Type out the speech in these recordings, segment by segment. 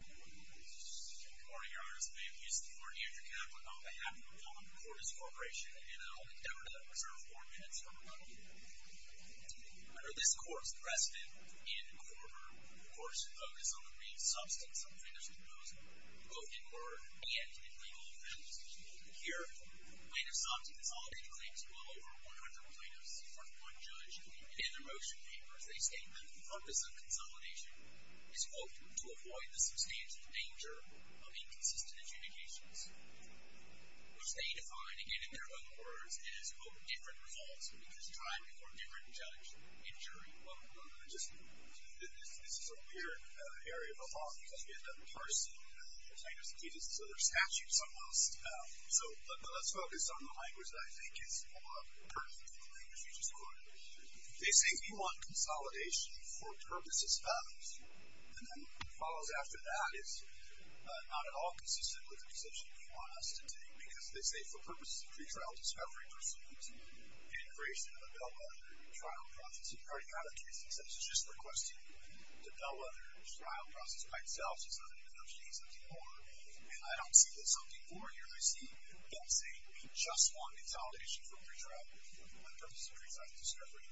Good morning, Your Honor. This may be used to warn you that you have on behalf of Cordis Corporation and I hope that you will observe four minutes from now. Under this Court's precedent in quarter, the Court should focus on the green substance of plaintiffs' composing, both in word and in legal offense. Here, the plaintiff's office consolidated claims to well over 100 plaintiffs. For one judge, in the motion papers, they state that the purpose of consolidation is, quote, to avoid the substantial danger of inconsistent adjudications, which they define, again, in their own words, as, quote, different results, which is time for a different judge in jury. Well, Your Honor, this is a weird area of the law because we have done the first kind of statistics, other statutes almost. So let's focus on the language that I think is more pertinent to the language you just quoted. They say we want consolidation for purposes, values, and then what follows after that is not at all consistent with the position they want us to take because they say for purposes of pretrial discovery pursuant to integration of a bellwether trial process. You've heard a lot of cases such as this requested when the bellwether trial process by itself doesn't negotiate something more. And I don't see there's something more here. I see them saying we just want consolidation for pretrial purposes of pretrial discovery.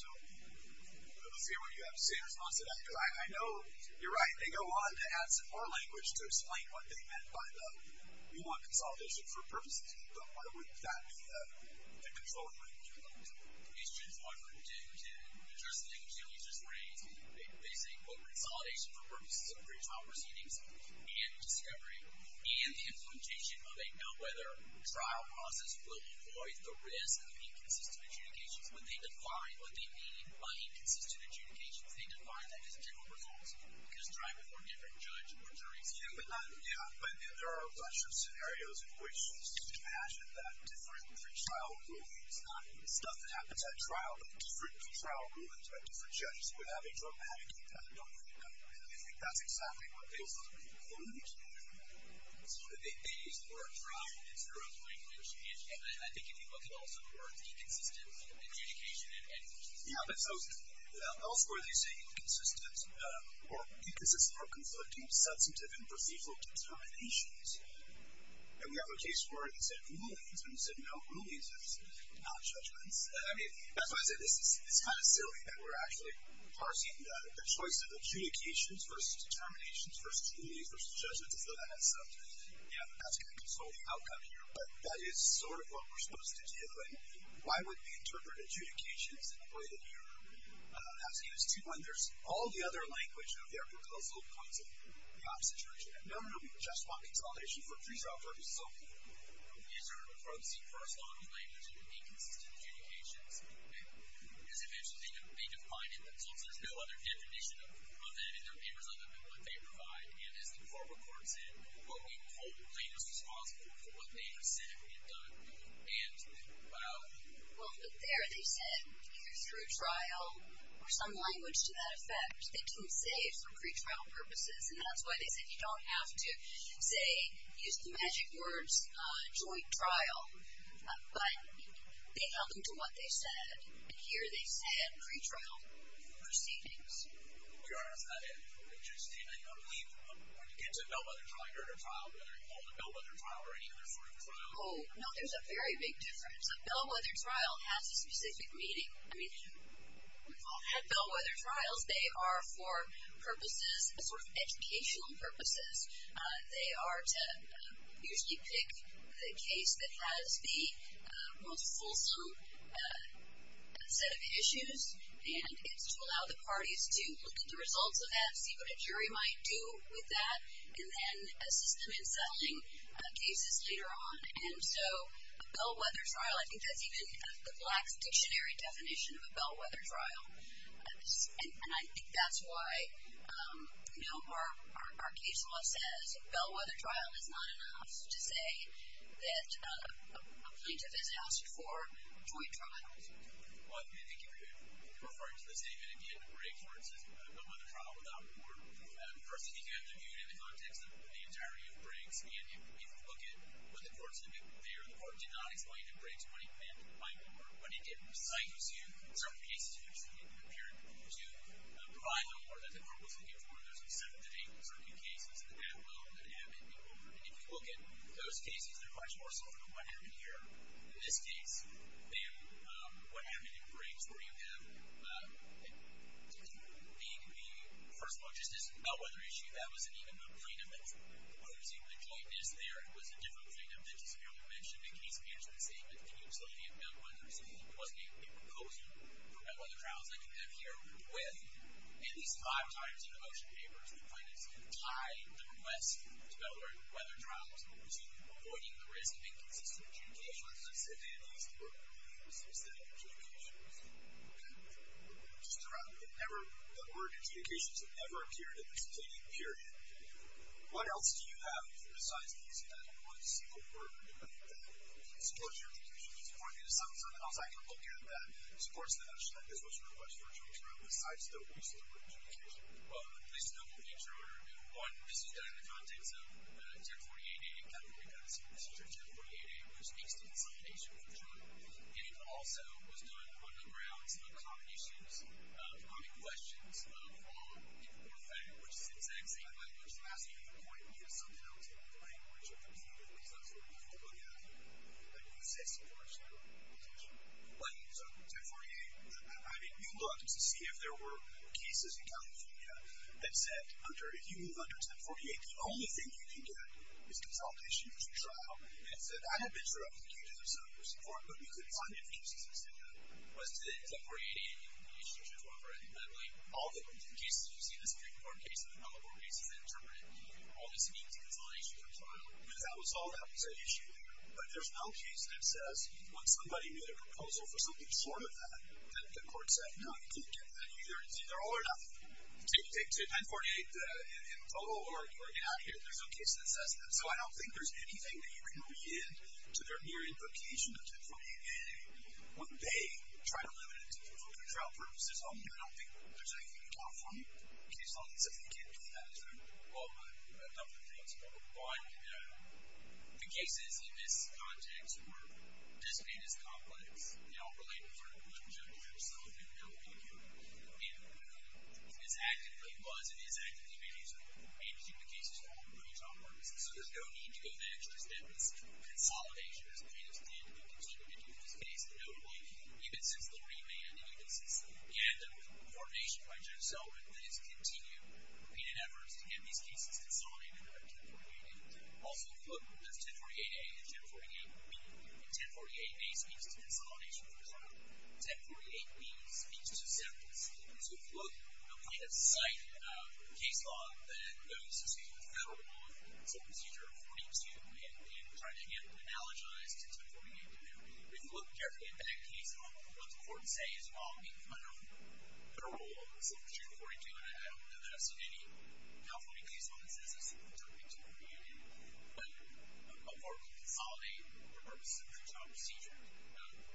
So I don't see what you have to say in response to that because I know you're right. They go on to add some more language to explain what they meant by the, we want consolidation for purposes, but why would that be the controlling language you're looking for? Mr. Judge, why would they? In terms of the thing that you just raised, they say, quote, consolidation for purposes of pretrial proceedings and discovery and the implementation of a bellwether trial process will avoid the risk of inconsistent adjudications. When they define what they mean by inconsistent adjudications, they define that as general reforms because it's driving for a different judge or jury. Yeah, but there are a bunch of scenarios in which you can imagine that different trial rulings, not stuff that happens at trial, but different trial rulings by different judges would have a dramatic impact on the outcome. And I think that's exactly what they were trying to do. So they used the word trial in their own language. And I think if you look at all sorts of words, inconsistent adjudication and adjudication. Yeah, but elsewhere they say inconsistent, or inconsistent for conflicting substantive and perceivable determinations. And we have a case where he said rulings, and he said, no, rulings are not judgments. I mean, that's why I say this is kind of silly that we're actually parsing the choice of adjudications versus determinations versus rulings versus judgments as though that had something to do with it. Yeah, but that's going to control the outcome here. But that is sort of what we're supposed to do. And why would we interpret adjudications in a way that you're asking us to when there's all the other language of the archipelagosal concept in the opposite direction? No, no, no, we just want consolidation for pretrial proceedings. So we sort of approach the first law in language of inconsistent adjudications. As I mentioned, they define it themselves. There's no other definition of that in their papers other than what they provide. And as the court reports it, what we hold plaintiffs responsible for what they have said and what they've done. And, well. Well, but there they said, through trial, or some language to that effect, they can say it for pretrial purposes. And that's why they said you don't have to say, use the magic words, joint trial. But they held on to what they said. And here they said pretrial proceedings. Your Honor, is that it? Just in a leap from when you get to bellwether trial, you're at a trial whether you hold a bellwether trial or any other sort of trial? Oh, no, there's a very big difference. A bellwether trial has a specific meaning. I mean, we've all had bellwether trials. They are for purposes, sort of educational purposes. They are to usually pick the case that has the most fulsome set of issues. And it's to allow the parties to look at the results of that, see what a jury might do with that, and then assist them in settling cases later on. And so a bellwether trial, I think that's even the Black's Dictionary definition of a bellwether trial. And I think that's why our case law says a bellwether trial is not enough to say that a plaintiff is asked for joint trials. Well, I think you're referring to the same. And, again, the break court is a bellwether trial without war. And, of course, you can't do that in the context of the entirety of breaks. And if you look at what the courts did there, the court did not explain in breaks what it meant by war. What it did was cite to certain cases in which you appeared to provide the war that the court was looking for. And there's a set of certain cases in the background that have it in war. And if you look at those cases, they're much more sort of what happened here in this case than what happened in breaks, where you have the first one, just this bellwether issue. That wasn't even the plaintiff that was proposing the jointness there. It was a different plaintiff that just earlier mentioned in case manager's statement, the utility of bellwethers. It wasn't a proposal for bellwether trials. I think that here with at least five times in the motion papers, the plaintiffs have tied the request to bellwether trials, which is avoiding the risk of inconsistent adjudications. I'm sorry, I didn't ask for specific adjudications. Okay. Just to wrap up, the word adjudications have never appeared in the plaintiff's hearing. What else do you have besides these and one single word that supports your adjudication? Just point me to something else I can look at that supports the notion that this was your request for a joint trial, besides the waste of the word adjudication. Well, at least in the nature of your review, one, this is done in the context of 1048A, which makes the insolidation of the term, and it also was done on the grounds of the common issues, common questions, of the law before the fact, which is the exact same language. I'm asking you to point me to something else in the language of the plaintiff, because that's what we're looking to look at. You said supports your adjudication. Well, 1048, I mean, you looked to see if there were cases in California that said, under, if you move under 1048, the only thing you can get is controlled issues for trial. And it said, I don't bitch around with you to do something for support, but we couldn't find any cases that said that. Was it in 1048A? No, it was 1048A. But, like, all the cases you see in this Supreme Court case, all the cases that interpret it, all this means is controlled issue for trial. I mean, that was all that was at issue there. But there's no case that says when somebody made a proposal for something short of that, It's either all or nothing. Take 1048 in total, or get out of here. There's no case that says that. So I don't think there's anything that you can read into their mere implication of 1048A when they try to limit it for trial purposes only. I don't think there's anything you can count from a case like that. So I think you can't do that. Well, I have a couple of thoughts. One, the cases in this context were just made as complex. They all relate to sort of the objectives themselves. And we don't really care who is acting, who was and is acting. You may need to read between the cases for all your own trial purposes. So there's no need to go there. It's just that this consolidation has been and is being continued to take place, and notably, even since the re-manding of the system. And there was coordination by Judge Selwin that has continued repeated efforts to get these cases consolidated throughout 1048A. Also, if you look, there's 1048A and 1048B. And 1048A speaks to consolidation of the trial. 1048B speaks to acceptance. And so if you look at a site case law that goes to Federal Procedure 42 and trying to get it analogized to 1048B, if you look carefully at that case law, what's important to say is, well, I don't know Federal Procedure 42, and I don't know that it's in any California case law that says it's interpreted to be a form of consolidation for purposes of a trial procedure.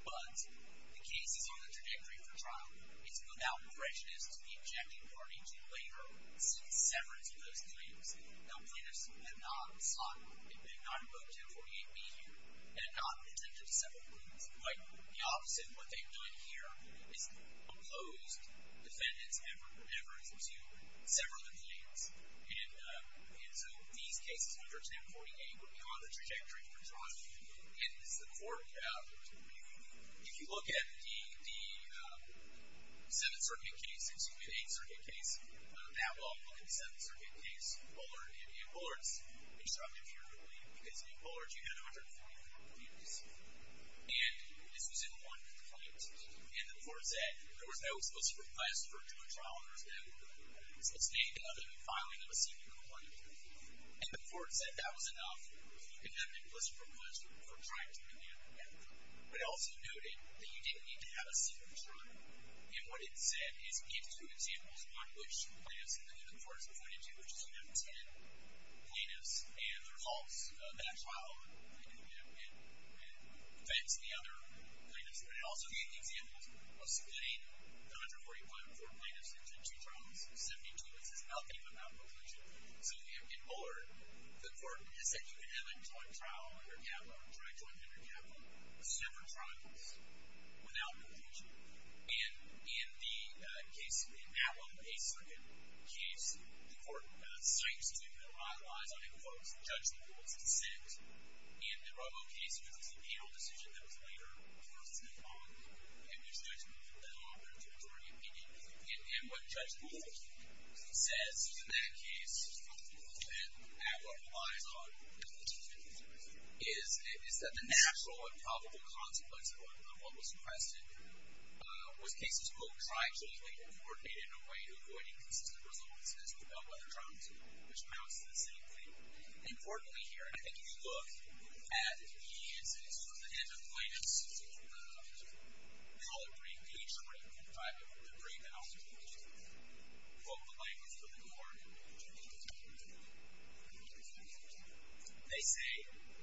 But the cases on the trajectory for trial, it's without prejudice to the objective parties who later see severance of those claims. The plaintiffs have not sought, have not invoked 1048B here and have not intended to sever the claims. Quite the opposite of what they've done here is opposed defendants' efforts to sever the claims. And so these cases, 11048A, would be on the trajectory for trial. And this is important. If you look at the Seventh Circuit case, excuse me, the Eighth Circuit case, that law would look at the Seventh Circuit case, Bullard and Ann Bullards. I'm sure I'm not hearing the blame because Ann Bullards, you had 140 other plaintiffs. And this was in one complaint. And the court said there was no solicitor's request for a trial for Ann Bullards and Ann Bullards. It's named other than filing of a secret complaint. And the court said that was enough. You can have the solicitor's request for a trial to be made with Ann Bullards. But it also noted that you didn't need to have a secret trial. And what it said is give two examples on which plaintiffs and the court has pointed to, which is 110 plaintiffs and the results of that trial, and defense of the other plaintiffs. But it also gave the examples of subpoenaing 940 plaintiffs or plaintiffs who took two trials, 72, which is nothing without preclusion. So in Bullard, the court has said you can have a joint trial under capital or a joint judgment under capital. There's several trials without preclusion. And in the case, in that one, the Eighth Circuit case, the court cites two that are outliers, and I think the court was in judgment, it was dissent. In the Robo case, which was a subpoena decision that was later forced into law, it was judgment, but not a majority opinion. And what Judge Bullard says in that case, and at what relies on the two cases, is that the natural and probable consequence of what was requested was cases, quote, triangularly coordinated in a way avoiding consistent results, as with all other trials, which amounts to the same thing. Importantly here, I think if you look at the instance of the hand of plaintiffs, we all agree, each one of them, in fact, agree that all of them, quote, the language of the court, they say,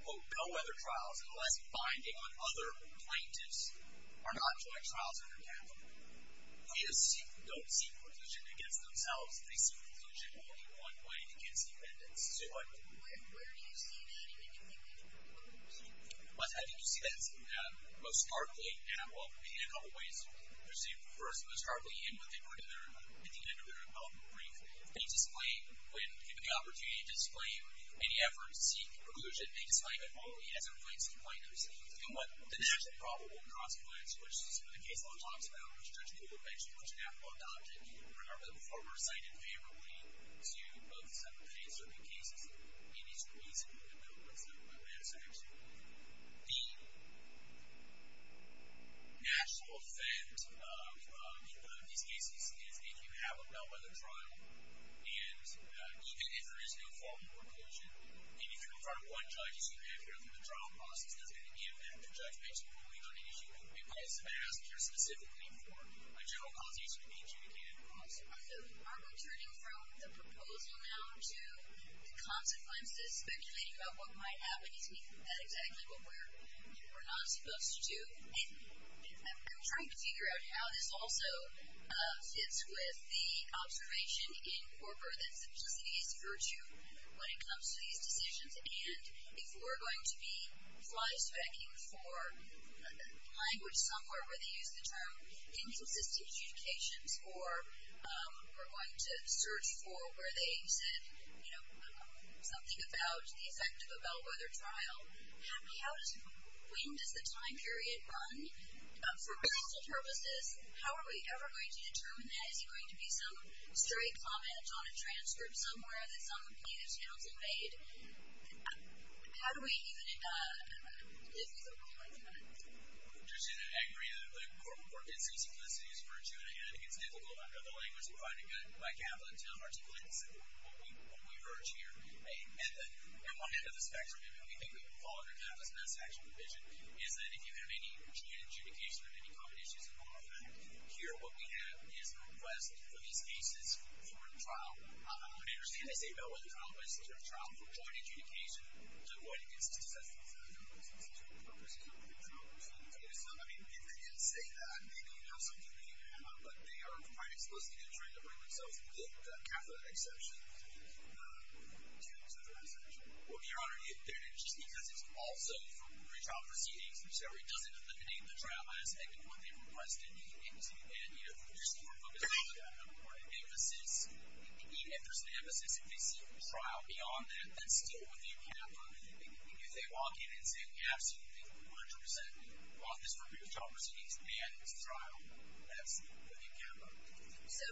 quote, no other trials, unless binding on other plaintiffs, are not joint trials under capital. Plaintiffs don't see preclusion against themselves. They see preclusion only one way, against the evidence. Say what? Where do you see that? And what do you think? What do you see? I think you see that most starkly in, well, in a couple of ways. First, most starkly in what they put in their development brief. They display, when given the opportunity, display any effort to seek preclusion. They display that only as it relates to the plaintiffs. And what the natural and probable consequence, which is what the case law talks about, which Judge Bullard mentioned, which an appellate object, or however the former cited favorably, to both suffocate certain cases in these briefs in the development of a way of sanctioning. The natural effect of these cases is that if you have them held by the trial, and even if there is no formal preclusion, even if you're in front of one judge, you should be clear that the trial process doesn't have any effect. The judge makes a ruling on an issue, but it's passed here specifically for a general causation of nature. And of course, aren't we turning from the proposal now to the consequences, speculating about what might happen if we do that exactly when we're not supposed to? And I'm trying to figure out how this also fits with the observation in Corker that simplicity is virtue when it comes to these decisions. And if we're going to be fly-specking for language somewhere where they use the term inconsistent adjudications, or we're going to search for where they said something about the effect of a bellwether trial, when does the time period run? For personal purposes, how are we ever going to determine that? Is there going to be some stray comment on a transcript somewhere that some plaintiff's counsel made? How do we even live with a rule like that? I agree that Corker did say simplicity is virtue, and I think it's negligible. I know the language provided by Kaplan to articulate what we urge here. And then, at one end of the spectrum, and we think we can fall under kind of this mass action provision, is that if you have any adjudication of any common issues of moral effect, here what we have is a request for these cases for trial. I understand they say bellwether trial, but is this a trial for joint adjudication to avoid inconsistent assessment? I mean, if they did say that, then you know something may have come out, but they are quite explicitly trying to bring themselves with the Kaplan exception to their assertion. Well, Your Honor, just because it's also for pre-trial proceedings or so, it doesn't eliminate the trial aspect of what they've requested. And, you know, there's a more focused emphasis. If there's an emphasis, if they seek a trial beyond that, that's still within Kaplan. If they walk in and say, we absolutely think we 100% want this for pre-trial proceedings and it's a trial, that's within Kaplan. So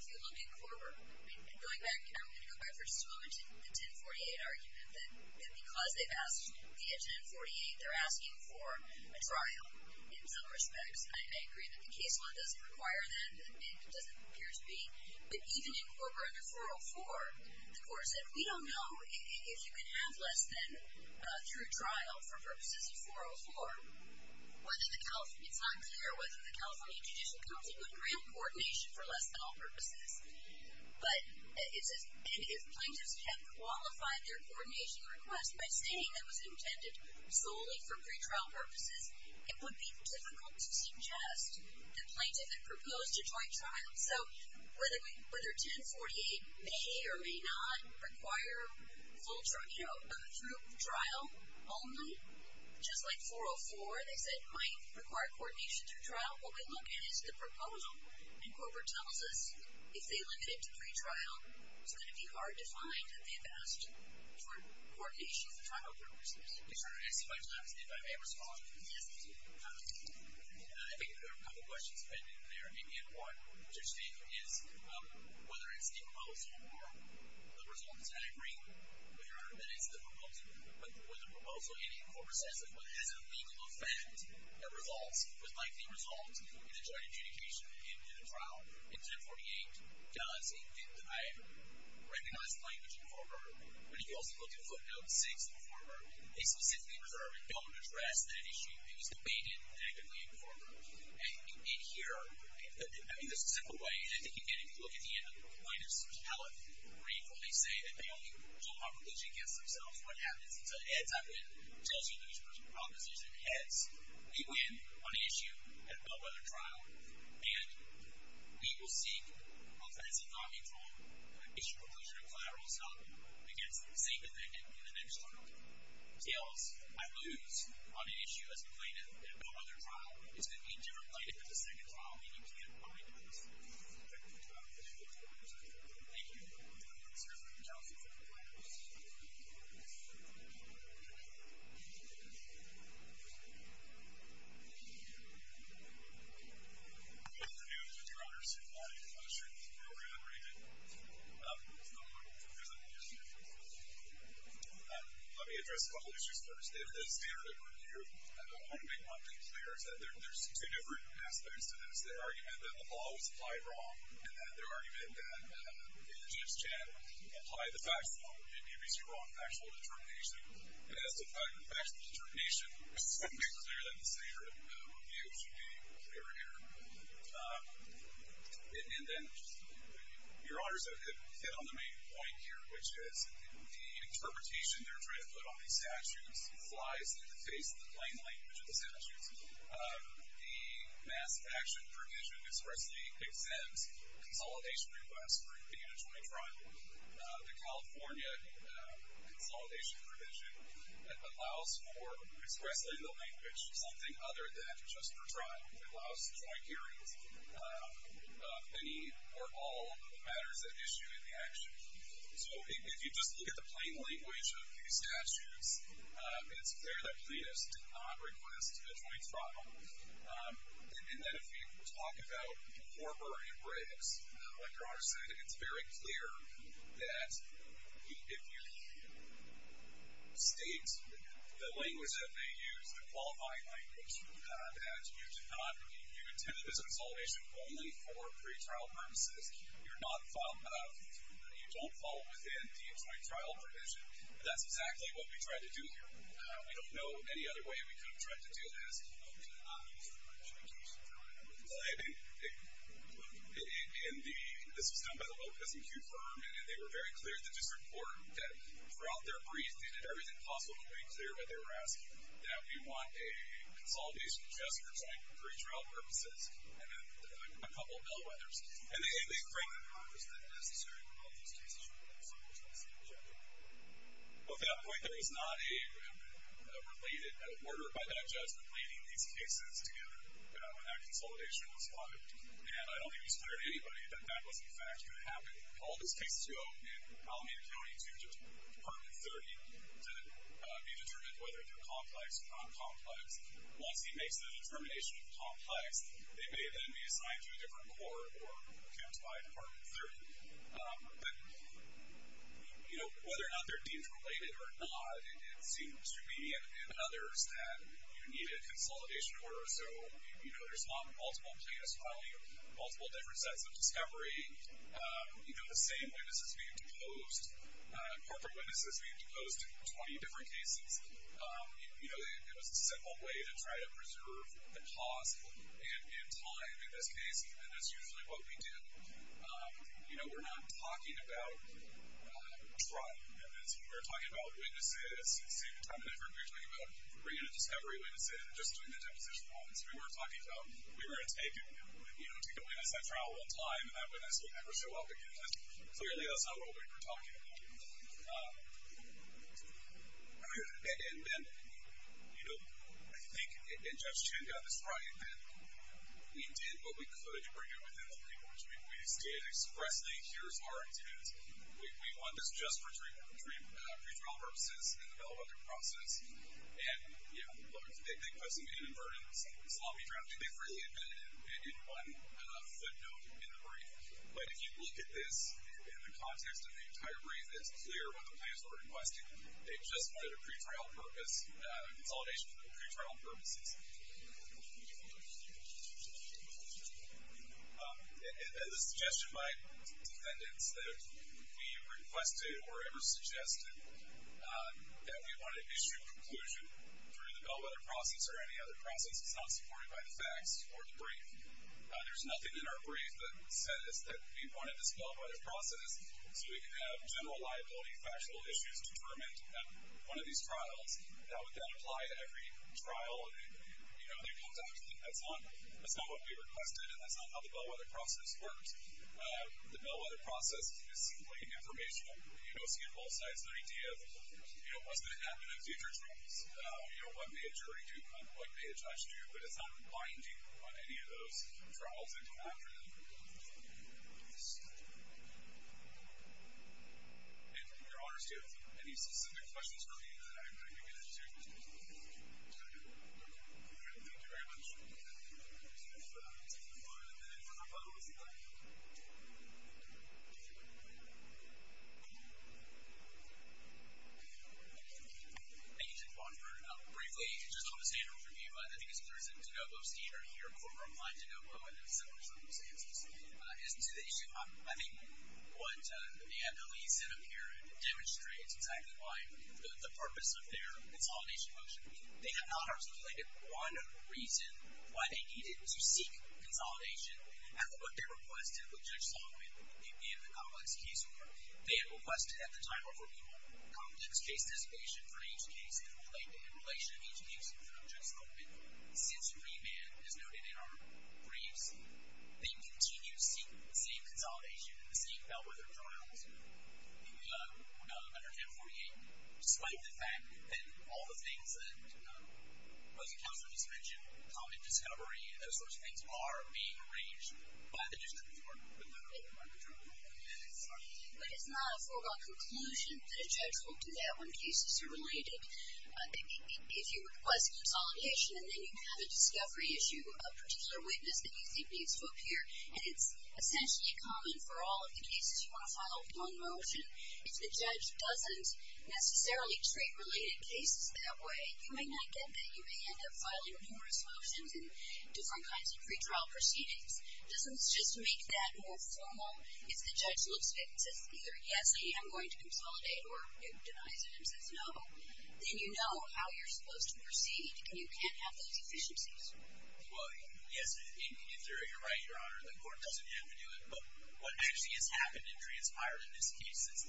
if you look at Korber, and going back, I'm going to go back for just a moment to the 1048 argument, that because they've asked via 1048, they're asking for a trial in some respects. I agree that the case law doesn't require that, and it doesn't appear to be. But even in Korber under 404, the court said, we don't know if you can have less than through trial for purposes of 404. It's not clear whether the California Judicial Council would grant coordination for less than all purposes. But if plaintiffs have qualified their coordination request by stating it was intended solely for pre-trial purposes, it would be difficult to suggest the plaintiff had proposed a joint trial. So whether 1048 may or may not require through trial only, just like 404, they said, might require coordination through trial, what we look at is the proposal, and Korber tells us if they limit it to pre-trial, it's going to be hard to find that they've asked for coordination for trial purposes. I just want to ask if I may respond. Yes, please. I think there are a couple questions that I didn't clear, and one which I think is, whether it's the proposal or the results, and I agree with your argument, it's the proposal, but would the proposal, and even Korber says it, but is it a legal offense that results, with likely results, in a joint adjudication, in a trial, if 1048 does, and I recognize the plaintiff in Korber, they specifically occur and don't address that issue. It was debated negatively in Korber. And in here, I mean, there's a simple way, and I think again, if you look at the end of the plaintiff's account, where he fully say that they only hold my proposal against themselves, what happens? He says, Eds, I win. He tells you he loses his proposition. Eds, we win on an issue at a bellwether trial, and we will seek, on fencing, on control, an issue conclusion of collateral assault against the same defendant in the next trial. Tails, I lose on an issue as a plaintiff at a bellwether trial. It's gonna be a different plaintiff at the second trial, and you can't find that. I just think it's a good thing to have an issue that's not a plaintiff's issue. Thank you. I'm going to continue to serve as counsel for the plaintiff's case. Good afternoon, your honors. I'm not sure if you can hear me, or if I'm ringing it. It's not working. It doesn't work, it doesn't work. Let me address a couple issues first. David Eds, mayor of the court here, and I want to make one thing clear, is that there's two different aspects to this. There's the argument that the law was applied wrong, and then the argument that the judge can't apply the facts wrong. It can't be seen wrong in factual determination. And as defined in factual determination, I just want to make clear that the statute of review should be clear here. And then, your honors, which is the interpretation they're trying to put on these statutes flies in the face of the plain language of the statutes. The Mass Action Provision expressly exempts consolidation requests for a joint trial. The California Consolidation Provision allows for, expressly in the language, something other than just for trial. It allows for joint hearings of any or all matters at issue in the action. So, if you just look at the plain language of these statutes, it's clear that Pledis did not request a joint trial. And then, if you talk about Corker and Briggs, like your honors said, it's very clear that if you state the language that they used, the qualifying language, that you did not, you intended this consolidation only for pretrial purposes. You're not, you don't fall within the joint trial provision. That's exactly what we tried to do here. We don't know any other way we could have tried to do this other than to not introduce a joint trial. Well, I mean, it, in the, this was done by the local SMQ firm and they were very clear at the district court that throughout their brief they did everything possible to make clear what they were asking, that we want a consolidation just for pretrial purposes and then a couple of bellwethers. And they frame the purpose that necessary for the consolidation as a joint trial. At that point, there was not a related order by that judgment leading these cases together when that consolidation was wanted. And I don't think we declared to anybody that that was in fact going to happen. All of these cases go in Alameda County to Department 30 to be determined whether they're complex or non-complex. Once he makes the determination of complex, they may then be assigned to a different court or accounted by Department 30. But, you know, whether or not they're deemed related or not, it seems to be in others that you need a consolidation order. So, you know, there's multiple plaintiffs filing multiple different sets of discovery. You know, the same witnesses being deposed, corporate witnesses being deposed in 20 different cases. You know, it was a simple way to try to preserve the cost and time in this case, and that's usually what we did. You know, we're not talking about a trial because we're talking about witnesses, we're talking about three different discovery witnesses, just doing the deposition once. We were talking about we were going to take a witness at trial one time and that witness would never show up again. Clearly, that's not what we were talking about. And then, you know, I think, and Judge Chen got this right, that we did what we could to bring it within the papers. We just did expressly, here's our intent, we want this just for procedural purposes, and develop a process, and, you know, look, they put some inadvertent sloppy drafting. They freely admitted it in one footnote in the brief, but if you look at this in the context of the entire brief, it's clear what the plaintiffs were requesting. They just wanted a pre-trial purpose, a consolidation for the pre-trial purposes. As a suggestion by defendants that we requested or ever suggested that we wanted to issue a conclusion through the bellwether process or any other process that's not supported by the facts or the brief. There's nothing in our brief that said that we wanted this bellwether process so we could have general liability factual issues determined in one of these briefs. that's the idea of what's going to happen in future trials, what may a jury do, what may a judge do, but it's not binding on any of those trials that go after them. And your honors, do you have any specific questions for me that I can get into? Thank you very much. I'm going to turn it over to my brother who's in the back. Thank you, Chief Bonford. Briefly, just on the standard review, I think as far as the D'Agostino here, former Alain D'Agostino in similar circumstances, his situation, I think what the NLE's in him here demonstrates exactly why the purpose of their consolidation motion, they have not articulated one reason why they needed to seek consolidation at what they requested of Judge Solomon in the complex case form. They had requested at the time a formal complex case anticipation for each case in relation to each case for Judge Solomon. Since remand is noted in our briefs, they continue to seek the same consolidation and the same bellwether journals under M48 despite the fact that all the things that both counsel just mentioned, common discovery and those sorts of things are being arranged by the district court. But it's not a foregone conclusion that a judge will do that when cases are related. If you request consolidation and then you have a discovery issue, a particular witness that you think needs to appear, and it's essentially common for all of the cases you want to file with court, it's not a foregone motion. If the judge doesn't necessarily treat related cases that way, you may not get that. You may end up filing numerous motions and different kinds of pretrial proceedings. It doesn't just make that more formal. If the judge looks at the case and says no, then you know how you're supposed to proceed and you can't have those deficiencies. Well, yes, in theory you're right, Your Honor. The court doesn't have to do it, but what actually has happened and transpired in this case is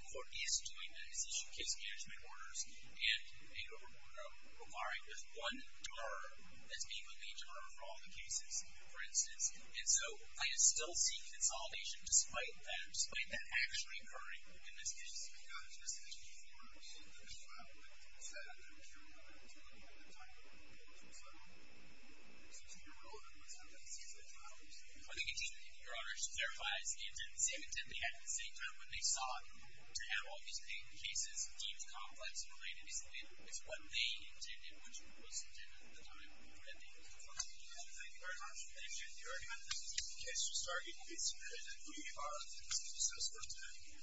the court is doing that. It's issued case management orders, and they go from requiring this one juror as being the lead juror for all the cases, for instance. And so I still see consolidation despite that, despite that actually occurring in this case. It's not just the two forms, it's the trial that takes that. And so that's the case that we're dealing with at the time. So I think it's irrelevant what's happened since those hours. Thank you. Your Honor, she clarifies the intent, the same intent they had at the same time when they saw to have all these jurors juror at the time. Thank you.